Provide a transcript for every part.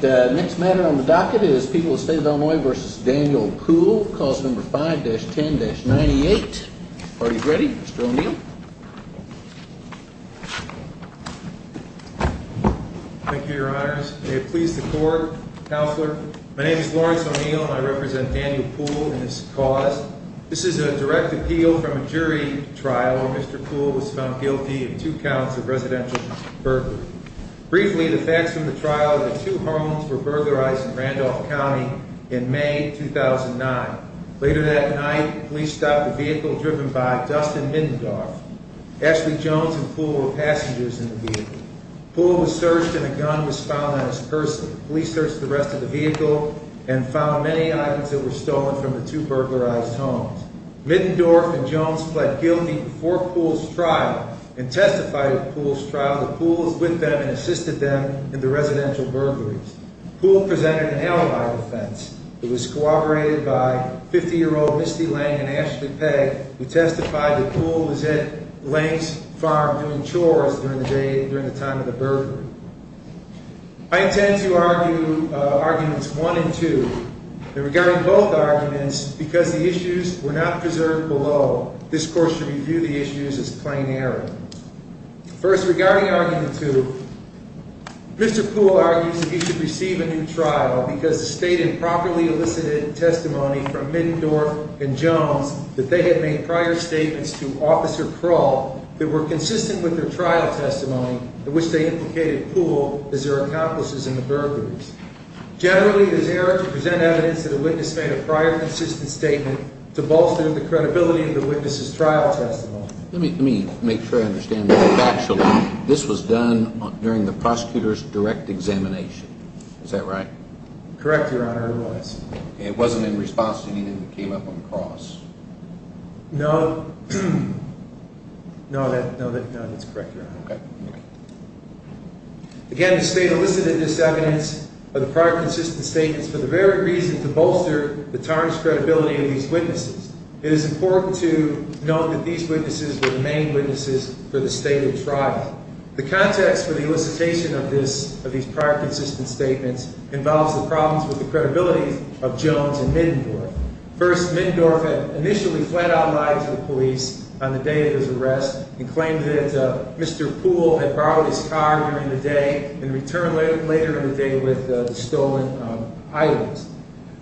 The next matter on the docket is People of the State of Illinois v. Daniel Poole, Clause 5-10-98. Are you ready, Mr. O'Neill? Thank you, Your Honors. May it please the Court, Counselor. My name is Lawrence O'Neill, and I represent Daniel Poole in this cause. This is a direct appeal from a jury trial where Mr. Poole was found guilty of two counts of residential burglary. Briefly, the facts from the trial are that two homes were burglarized in Randolph County in May 2009. Later that night, police stopped a vehicle driven by Dustin Middendorf. Ashley Jones and Poole were passengers in the vehicle. Poole was searched, and a gun was found on his purse. Police searched the rest of the vehicle and found many items that were stolen from the two burglarized homes. Middendorf and Jones pled guilty before Poole's trial and testified at Poole's trial that Poole was with them and assisted them in the residential burglaries. Poole presented an alibi defense. It was corroborated by 50-year-old Misty Lang and Ashley Pegg, who testified that Poole was at Lang's farm doing chores during the time of the burglary. I intend to argue arguments one and two. Regarding both arguments, because the issues were not preserved below, this court should review the issues as plain error. First, regarding argument two, Mr. Poole argues that he should receive a new trial because the state had properly elicited testimony from Middendorf and Jones that they had made prior statements to Officer Kroll that were consistent with their trial testimony in which they implicated Poole as their accomplices in the burglaries. Generally, it is error to present evidence that a witness made a prior consistent statement to bolster the credibility of the witness's trial testimony. Let me make sure I understand this factually. This was done during the prosecutor's direct examination. Is that right? Correct, Your Honor, it was. It wasn't in response to anything that came up on the cross? No. No, that's correct, Your Honor. Okay. Again, the state elicited this evidence of the prior consistent statements for the very reason to bolster the tarnished credibility of these witnesses. It is important to note that these witnesses were the main witnesses for the stated trial. The context for the elicitation of these prior consistent statements involves the problems with the credibility of Jones and Middendorf. First, Middendorf had initially flat-out lied to the police on the day of his arrest and claimed that Mr. Poole had borrowed his car during the day and returned later in the day with the stolen items.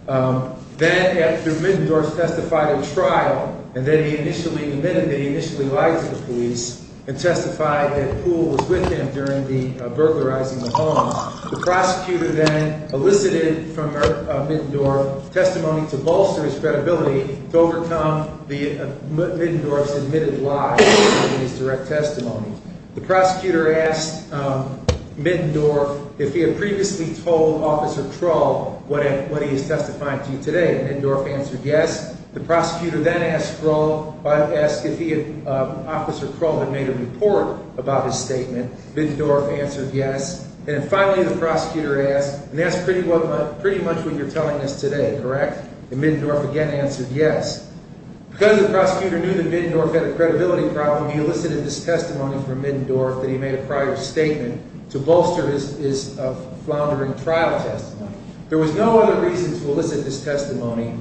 Then, after Middendorf testified at trial, and then he initially admitted that he initially lied to the police and testified that Poole was with him during the burglarizing of the home, the prosecutor then elicited from Middendorf testimony to bolster his credibility to overcome Middendorf's admitted lie in his direct testimony. The prosecutor asked Middendorf if he had previously told Officer Trull what he is testifying to today. Middendorf answered yes. The prosecutor then asked Trull if Officer Trull had made a report about his statement. Middendorf answered yes. And finally, the prosecutor asked, and that's pretty much what you're telling us today, correct? And Middendorf again answered yes. Because the prosecutor knew that Middendorf had a credibility problem, he elicited this testimony from Middendorf that he made a prior statement to bolster his floundering trial testimony. There was no other reason to elicit this testimony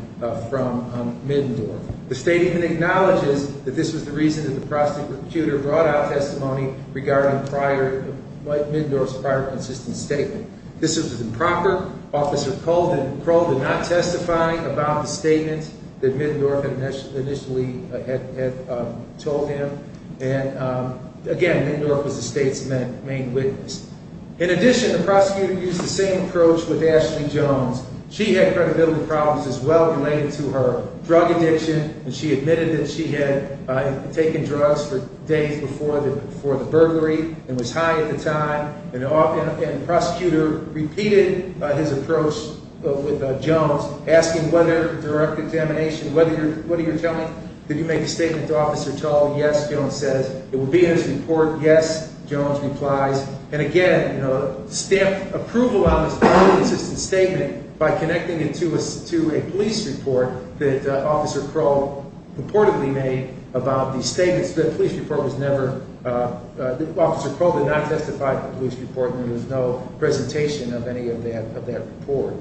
from Middendorf. The statement acknowledges that this was the reason that the prosecutor brought out testimony regarding Middendorf's prior consistent statement. This was improper. Officer Trull did not testify about the statement that Middendorf initially had told him. And again, Middendorf was the state's main witness. In addition, the prosecutor used the same approach with Ashley Jones. She had credibility problems as well related to her drug addiction. And she admitted that she had taken drugs for days before the burglary and was high at the time. And the prosecutor repeated his approach with Jones, asking whether direct examination, what are you telling me? Did you make a statement to Officer Trull? Yes, Jones says. It will be in his report. Yes, Jones replies. And again, stamp approval on this prior consistent statement by connecting it to a police report that Officer Trull purportedly made about the statements. The police report was never, Officer Trull did not testify to the police report and there was no presentation of any of that report.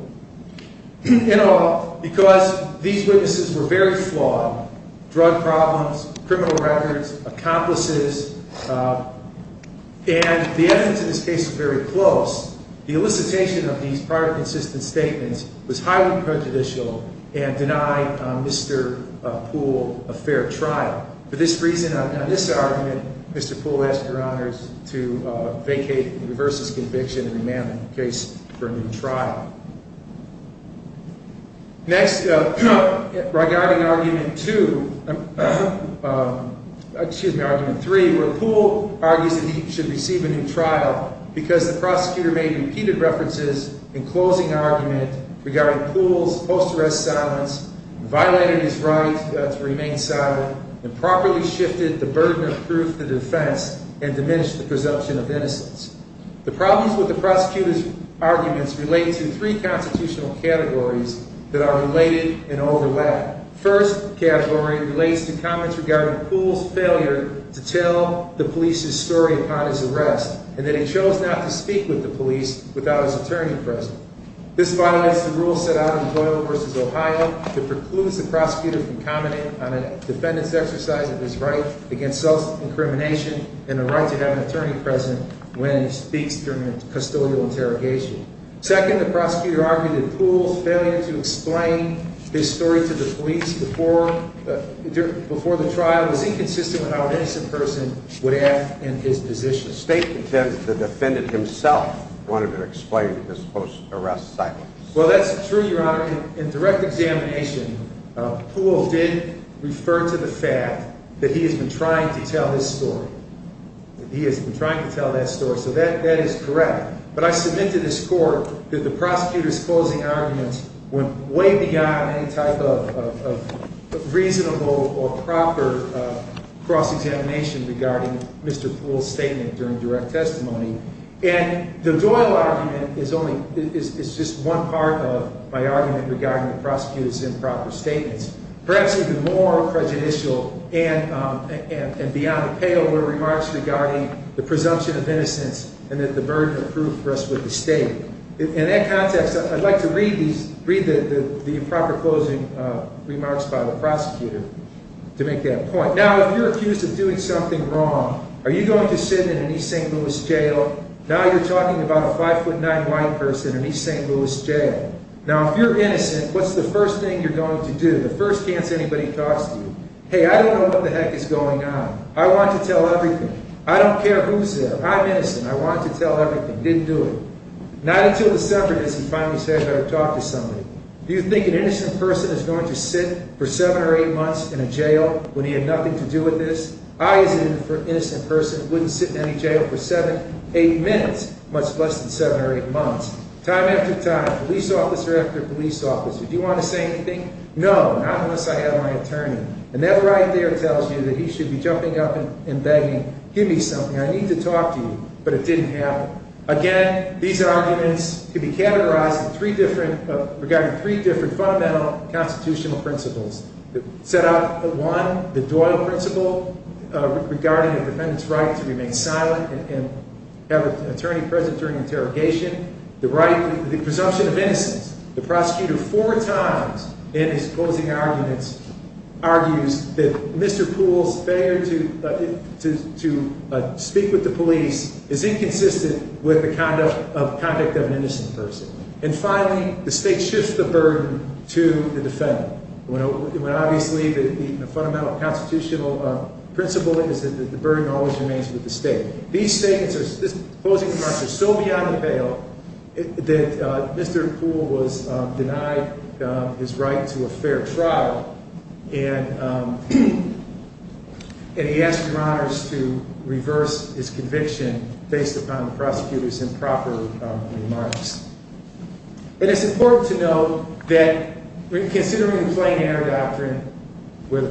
In all, because these witnesses were very flawed, drug problems, criminal records, accomplices, and the evidence in this case was very close, the elicitation of these prior consistent statements was highly prejudicial and denied Mr. Poole a fair trial. For this reason, on this argument, Mr. Poole asked Your Honors to vacate and reverse his conviction and remand the case for a new trial. Next, regarding argument two, excuse me, argument three, where Poole argues that he should receive a new trial because the prosecutor made repeated references in closing argument regarding Poole's post-arrest silence, violated his right to remain silent, improperly shifted the burden of truth to defense, and diminished the presumption of innocence. The problems with the prosecutor's arguments relate to three constitutional categories that are related and overlap. First category relates to comments regarding Poole's failure to tell the police's story upon his arrest and that he chose not to speak with the police without his attorney present. This violates the rules set out in Doyle v. Ohio that precludes the prosecutor from commenting on a defendant's exercise of his right against self-incrimination and the right to have an attorney present when he speaks during a custodial interrogation. Second, the prosecutor argued that Poole's failure to explain his story to the police before the trial was inconsistent with how an innocent person would act in his position. State contempt, the defendant himself wanted to explain his post-arrest silence. Well, that's true, Your Honor. In direct examination, Poole did refer to the fact that he has been trying to tell his story. He has been trying to tell that story, so that is correct. But I submit to this Court that the prosecutor's closing arguments went way beyond any type of reasonable or proper cross-examination regarding Mr. Poole's statement during direct testimony. And the Doyle argument is just one part of my argument regarding the prosecutor's improper statements. Perhaps even more prejudicial and beyond the pale were remarks regarding the presumption of innocence and the burden of proof for us with the State. In that context, I'd like to read the improper closing remarks by the prosecutor to make that point. Now, if you're accused of doing something wrong, are you going to sit in an East St. Louis jail? Now you're talking about a 5'9'' white person in an East St. Louis jail. Now, if you're innocent, what's the first thing you're going to do, the first chance anybody talks to you? Hey, I don't know what the heck is going on. I want to tell everything. I don't care who's there. I'm innocent. I want to tell everything. Didn't do it. Not until December does he finally say I better talk to somebody. Do you think an innocent person is going to sit for seven or eight months in a jail when he had nothing to do with this? I, as an innocent person, wouldn't sit in any jail for seven, eight minutes, much less than seven or eight months. Time after time, police officer after police officer, do you want to say anything? No, not unless I have my attorney. And that right there tells you that he should be jumping up and begging, give me something. I need to talk to you. But it didn't happen. Again, these arguments can be categorized in three different, regarding three different fundamental constitutional principles. Set out one, the Doyle principle regarding a defendant's right to remain silent and have an attorney present during interrogation. The right, the presumption of innocence. The prosecutor four times in his closing arguments argues that Mr. Poole's failure to speak with the police is inconsistent with the conduct of an innocent person. And finally, the state shifts the burden to the defendant. When obviously the fundamental constitutional principle is that the burden always remains with the state. These statements, these closing remarks are so beyond the pale that Mr. Poole was denied his right to a fair trial. And he asked your honors to reverse his conviction based upon the prosecutor's improper remarks. And it's important to note that considering the plain air doctrine, where the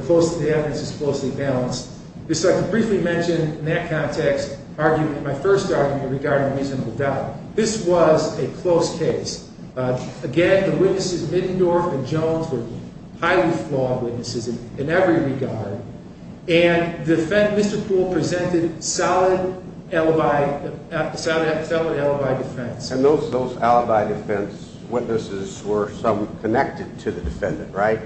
evidence is closely balanced, I can briefly mention in that context my first argument regarding reasonable doubt. This was a close case. Again, the witnesses Middendorf and Jones were highly flawed witnesses in every regard. And Mr. Poole presented solid alibi defense. And those alibi defense witnesses were some connected to the defendant, right?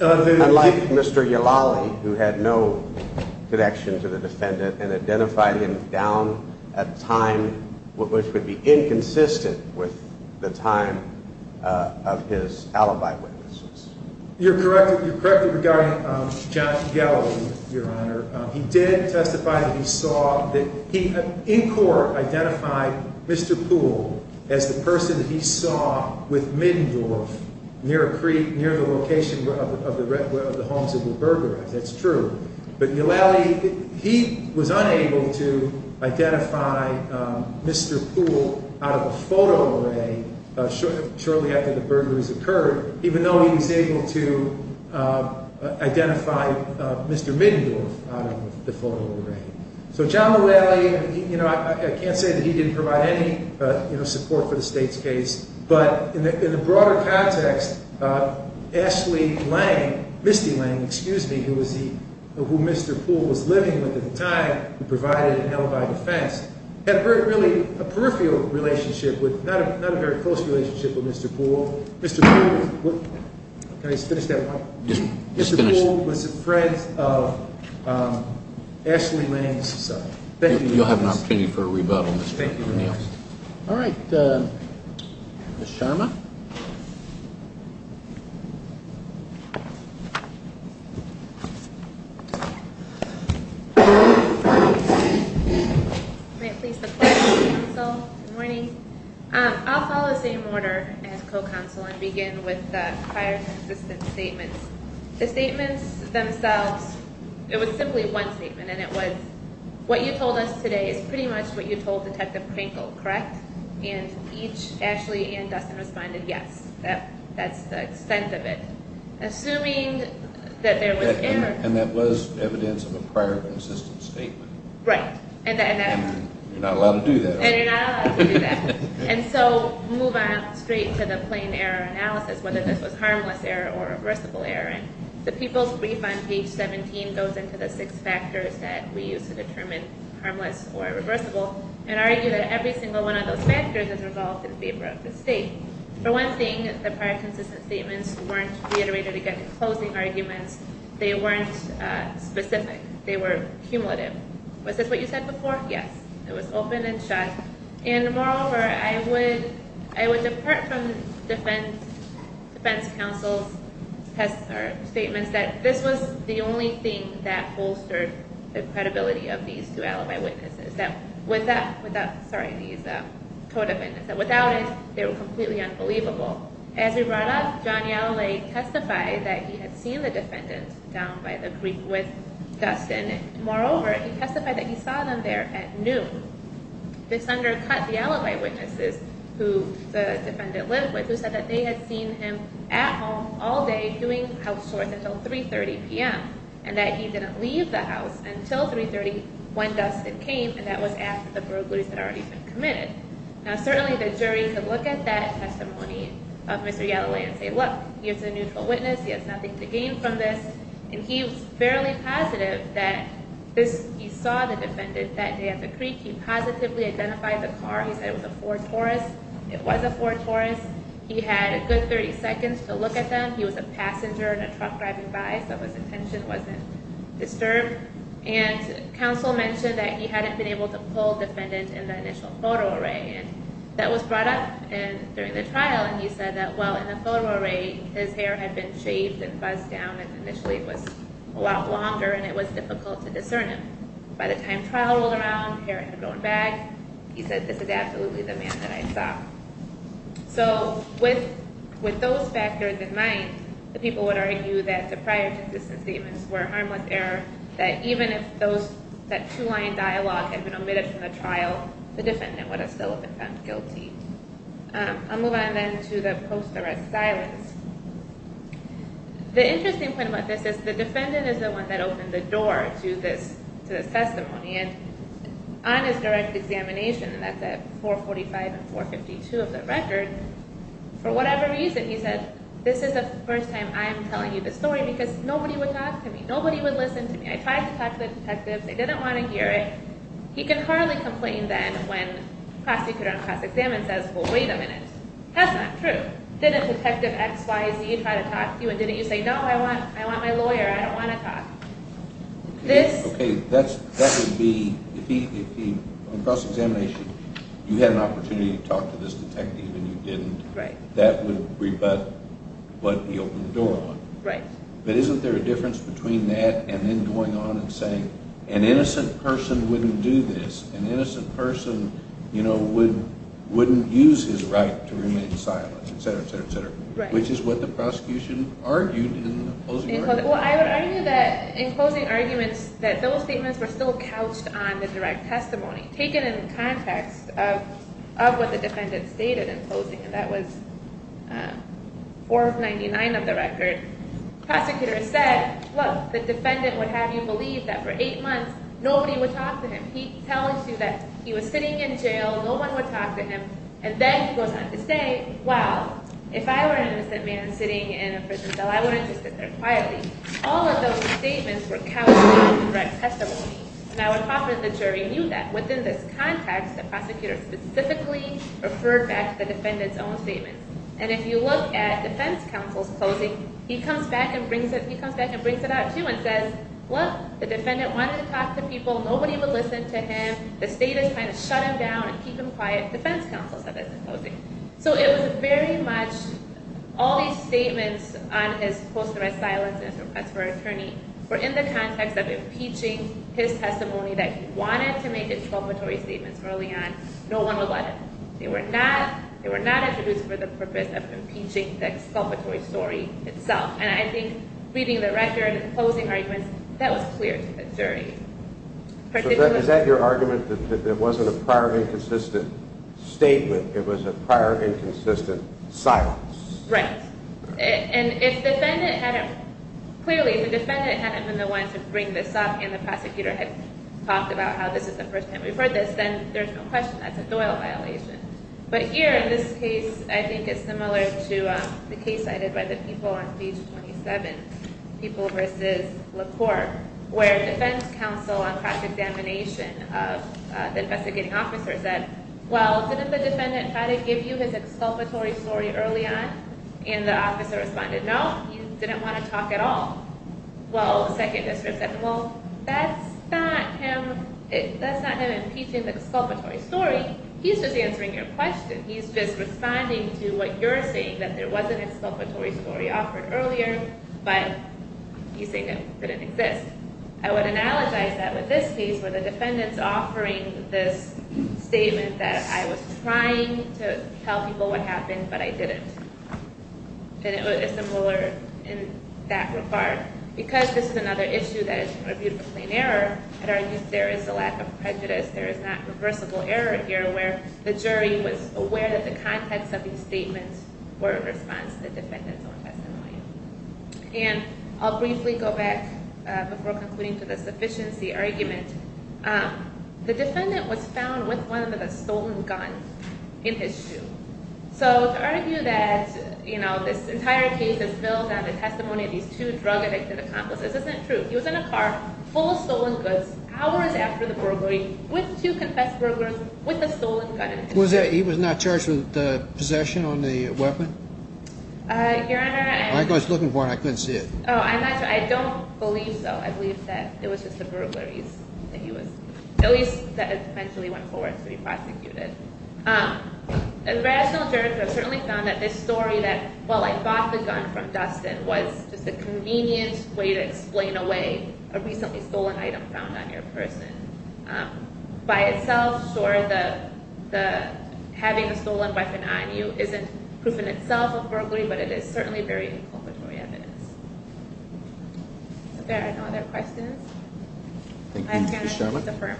Unlike Mr. Yalali, who had no connection to the defendant and identified him down at a time which would be inconsistent with the time of his alibi witnesses. You're correct in regarding John Gallo, your honor. He did testify that he saw that he in court identified Mr. Poole as the person that he saw with Middendorf near a creek near the location of the homes of the burglar. That's true. But Yalali, he was unable to identify Mr. Poole out of the photo array shortly after the burglaries occurred, even though he was able to identify Mr. Middendorf out of the photo array. So John Yalali, I can't say that he didn't provide any support for the state's case. But in the broader context, Ashley Lang, Misty Lang, excuse me, who Mr. Poole was living with at the time, who provided an alibi defense, had really a peripheral relationship with, not a very close relationship with Mr. Poole. Mr. Poole, can I just finish that one? Just finish it. Mr. Poole was a friend of Ashley Lang's son. You'll have an opportunity for a rebuttal, Mr. O'Neill. All right. Ms. Sharma. Good morning. I'll follow the same order as co-counsel and begin with the prior consistent statements. The statements themselves, it was simply one statement, and it was, what you told us today is pretty much what you told Detective Krinkle, correct? And each, Ashley and Dustin, responded yes. That's the extent of it. Assuming that there was error. And that was evidence of a prior consistent statement. Right. And you're not allowed to do that. And you're not allowed to do that. And so move on straight to the plain error analysis, whether this was harmless error or reversible error. And the people's brief on page 17 goes into the six factors that we use to determine harmless or reversible and argue that every single one of those factors is resolved in favor of the state. For one thing, the prior consistent statements weren't reiterated against closing arguments. They weren't specific. They were cumulative. Was this what you said before? Yes. It was open and shut. And moreover, I would depart from defense counsel's statements that this was the only thing that bolstered the credibility of these two alibi witnesses. That without, sorry, these co-defendants, that without it, they were completely unbelievable. As we brought up, John Yalalay testified that he had seen the defendants down by the creek with Dustin. Moreover, he testified that he saw them there at noon. This undercut the alibi witnesses who the defendant lived with, who said that they had seen him at home all day doing house chores until 3.30 p.m. And that he didn't leave the house until 3.30 when Dustin came, and that was after the burglaries had already been committed. Now, certainly the jury could look at that testimony of Mr. Yalalay and say, look, he is a neutral witness. He has nothing to gain from this. And he was fairly positive that he saw the defendant that day at the creek. He positively identified the car. He said it was a Ford Taurus. It was a Ford Taurus. He had a good 30 seconds to look at them. He was a passenger in a truck driving by, so his attention wasn't disturbed. And counsel mentioned that he hadn't been able to pull defendant in the initial photo array. And that was brought up during the trial, and he said that, well, in the photo array, his hair had been shaved and buzzed down, and initially it was a lot longer, and it was difficult to discern him. By the time trial rolled around, hair had grown back, he said, this is absolutely the man that I saw. So with those factors in mind, the people would argue that the prior consistent statements were a harmless error, that even if that two-line dialogue had been omitted from the trial, the defendant would have still been found guilty. I'll move on then to the post-arrest silence. The interesting point about this is the defendant is the one that opened the door to the testimony. And on his direct examination, and that's at 445 and 452 of the record, for whatever reason, he said, this is the first time I'm telling you this story because nobody would talk to me, nobody would listen to me. I tried to talk to the detectives, they didn't want to hear it. He can hardly complain then when prosecutor on cross-examination says, well, wait a minute, that's not true. Didn't Detective XYZ try to talk to you, and didn't you say, no, I want my lawyer, I don't want to talk? Okay, that would be, on cross-examination, you had an opportunity to talk to this detective and you didn't. That would rebut what he opened the door on. But isn't there a difference between that and then going on and saying, an innocent person wouldn't do this, an innocent person wouldn't use his right to remain silent, et cetera, et cetera, et cetera, which is what the prosecution argued in the closing argument. Well, I would argue that in closing arguments, that those statements were still couched on the direct testimony, taken in the context of what the defendant stated in closing, and that was 499 of the record. Prosecutor said, look, the defendant would have you believe that for eight months, nobody would talk to him. He tells you that he was sitting in jail, no one would talk to him, and then he goes on to say, well, if I were an innocent man sitting in a prison cell, I wouldn't just sit there quietly. All of those statements were couched on the direct testimony, and I would hope that the jury knew that. Within this context, the prosecutor specifically referred back to the defendant's own statement. And if you look at defense counsel's closing, he comes back and brings it out, too, and says, look, the defendant wanted to talk to people, nobody would listen to him, the state is trying to shut him down and keep him quiet. Defense counsel said that in closing. So it was very much all these statements on his post-threat silence and his request for an attorney were in the context of impeaching his testimony that he wanted to make exculpatory statements early on. No one would let him. They were not introduced for the purpose of impeaching the exculpatory story itself. And I think reading the record and closing arguments, that was clear to the jury. Is that your argument, that it wasn't a prior inconsistent statement, it was a prior inconsistent silence? Right. And if the defendant hadn't, clearly if the defendant hadn't been the one to bring this up and the prosecutor had talked about how this is the first time we've heard this, then there's no question that's a Doyle violation. But here in this case, I think it's similar to the case I did by the people on page 27, People v. La Cour, where defense counsel on fact examination of the investigating officer said, well, didn't the defendant try to give you his exculpatory story early on? And the officer responded, no, he didn't want to talk at all. Well, the second district said, well, that's not him impeaching the exculpatory story. He's just answering your question. He's just responding to what you're saying, that there was an exculpatory story offered earlier, but he's saying it didn't exist. I would analogize that with this case where the defendant's offering this statement that I was trying to tell people what happened, but I didn't. And it was similar in that regard. Because this is another issue that is a beautiful plain error, there is a lack of prejudice. There is not reversible error here where the jury was aware that the context of these statements were in response to the defendant's own testimony. And I'll briefly go back before concluding to the sufficiency argument. The defendant was found with one of the stolen guns in his shoe. So to argue that this entire case is built on the testimony of these two drug-addicted accomplices isn't true. He was in a car full of stolen goods hours after the burglary with two confessed burglars with a stolen gun in his shoe. He was not charged with possession on the weapon? Your Honor, I'm not sure. I was looking for it and I couldn't see it. Oh, I'm not sure. I don't believe so. I believe that it was just the burglaries that he was, at least that eventually went forward to be prosecuted. As a rational juror, I certainly found that this story that, well, I bought the gun from Dustin was just a convenient way to explain away a recently stolen item found on your person. By itself, sure, having a stolen weapon on you isn't proof in itself of burglary, but it is certainly very inculcatory evidence. Are there no other questions? Thank you, Ms. Sharma.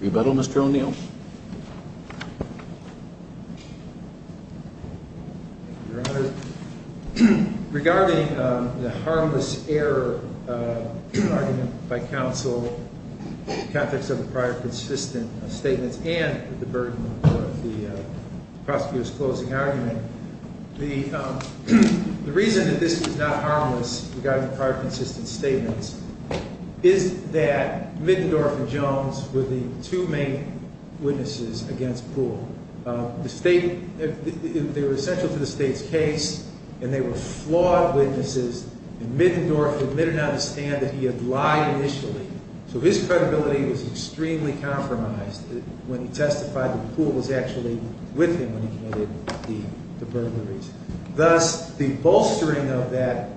Rebuttal, Mr. O'Neill? Your Honor, regarding the harmless error argument by counsel in the context of the prior consistent statements and the burden of the prosecutor's closing argument, the reason that this was not harmless regarding the prior consistent statements is that Mittendorf and Jones were the two main witnesses against Poole. They were essential to the state's case, and they were flawed witnesses, and Mittendorf did not understand that he had lied initially, so his credibility was extremely compromised when he testified that Poole was actually with him when he committed the burglaries. Thus, the bolstering of that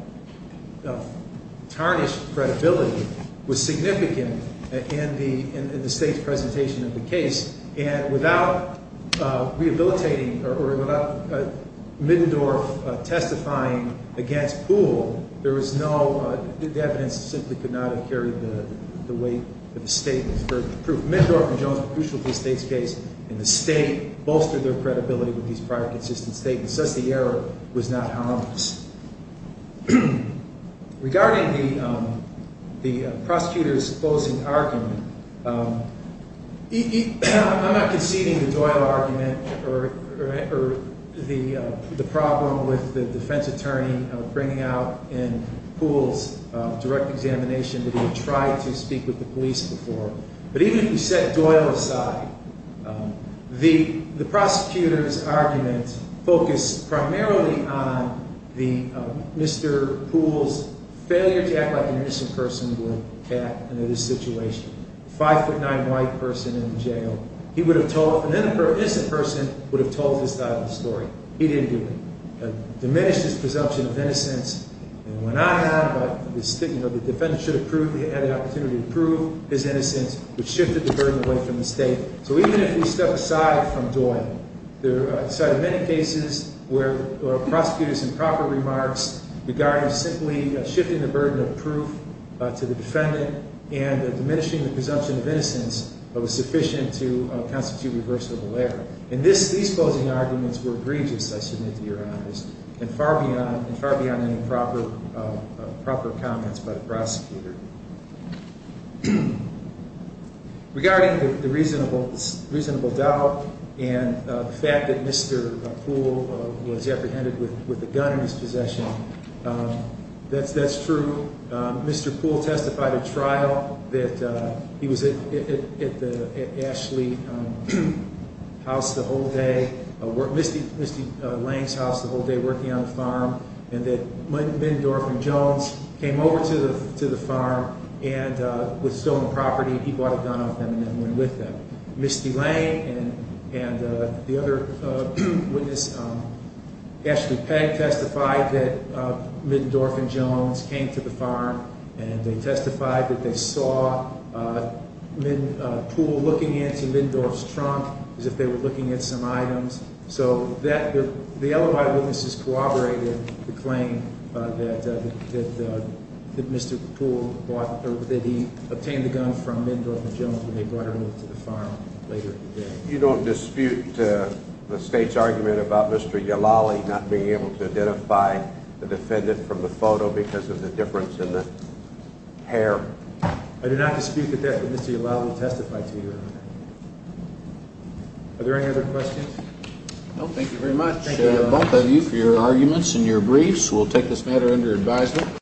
tarnished credibility was significant in the state's presentation of the case, and without rehabilitating or without Mittendorf testifying against Poole, there was no – the evidence simply could not have carried the weight of the statement. For proof, Mittendorf and Jones were crucial to the state's case, and the state bolstered their credibility with these prior consistent statements. Thus, the error was not harmless. Regarding the prosecutor's closing argument, I'm not conceding the Doyle argument or the problem with the defense attorney bringing out in Poole's direct examination that he tried to speak with the police before, but even if you set Doyle aside, the prosecutor's argument focused primarily on Mr. Poole's failure to act like an innocent person would have in this situation. A five-foot-nine white person in jail, he would have told – an innocent person would have told this type of story. He didn't do it. He diminished his presumption of innocence and went on and on, but the defendant should have had the opportunity to prove his innocence, which shifted the burden away from the state. So even if we step aside from Doyle, there are many cases where a prosecutor's improper remarks regarding simply shifting the burden of proof to the defendant and diminishing the presumption of innocence was sufficient to constitute reversible error. And these closing arguments were egregious, I submit to your honors, and far beyond any proper comments by the prosecutor. Regarding the reasonable doubt and the fact that Mr. Poole was apprehended with a gun in his possession, that's true. Mr. Poole testified at trial that he was at Ashley House the whole day, Misty Lane's house the whole day, working on the farm, and that Middendorff and Jones came over to the farm and, with stolen property, he bought a gun off them and went with them. Misty Lane and the other witness, Ashley Pegg, testified that Middendorff and Jones came to the farm and they testified that they saw Poole looking into Middendorff's trunk as if they were looking at some items. So the other eyewitnesses corroborated the claim that Mr. Poole obtained the gun from Middendorff and Jones when they brought her over to the farm later that day. You don't dispute the State's argument about Mr. Yalali not being able to identify the defendant from the photo because of the difference in the hair? I do not dispute that Mr. Yalali testified to your argument. Are there any other questions? No, thank you very much both of you for your arguments and your briefs. We'll take this matter under advisement.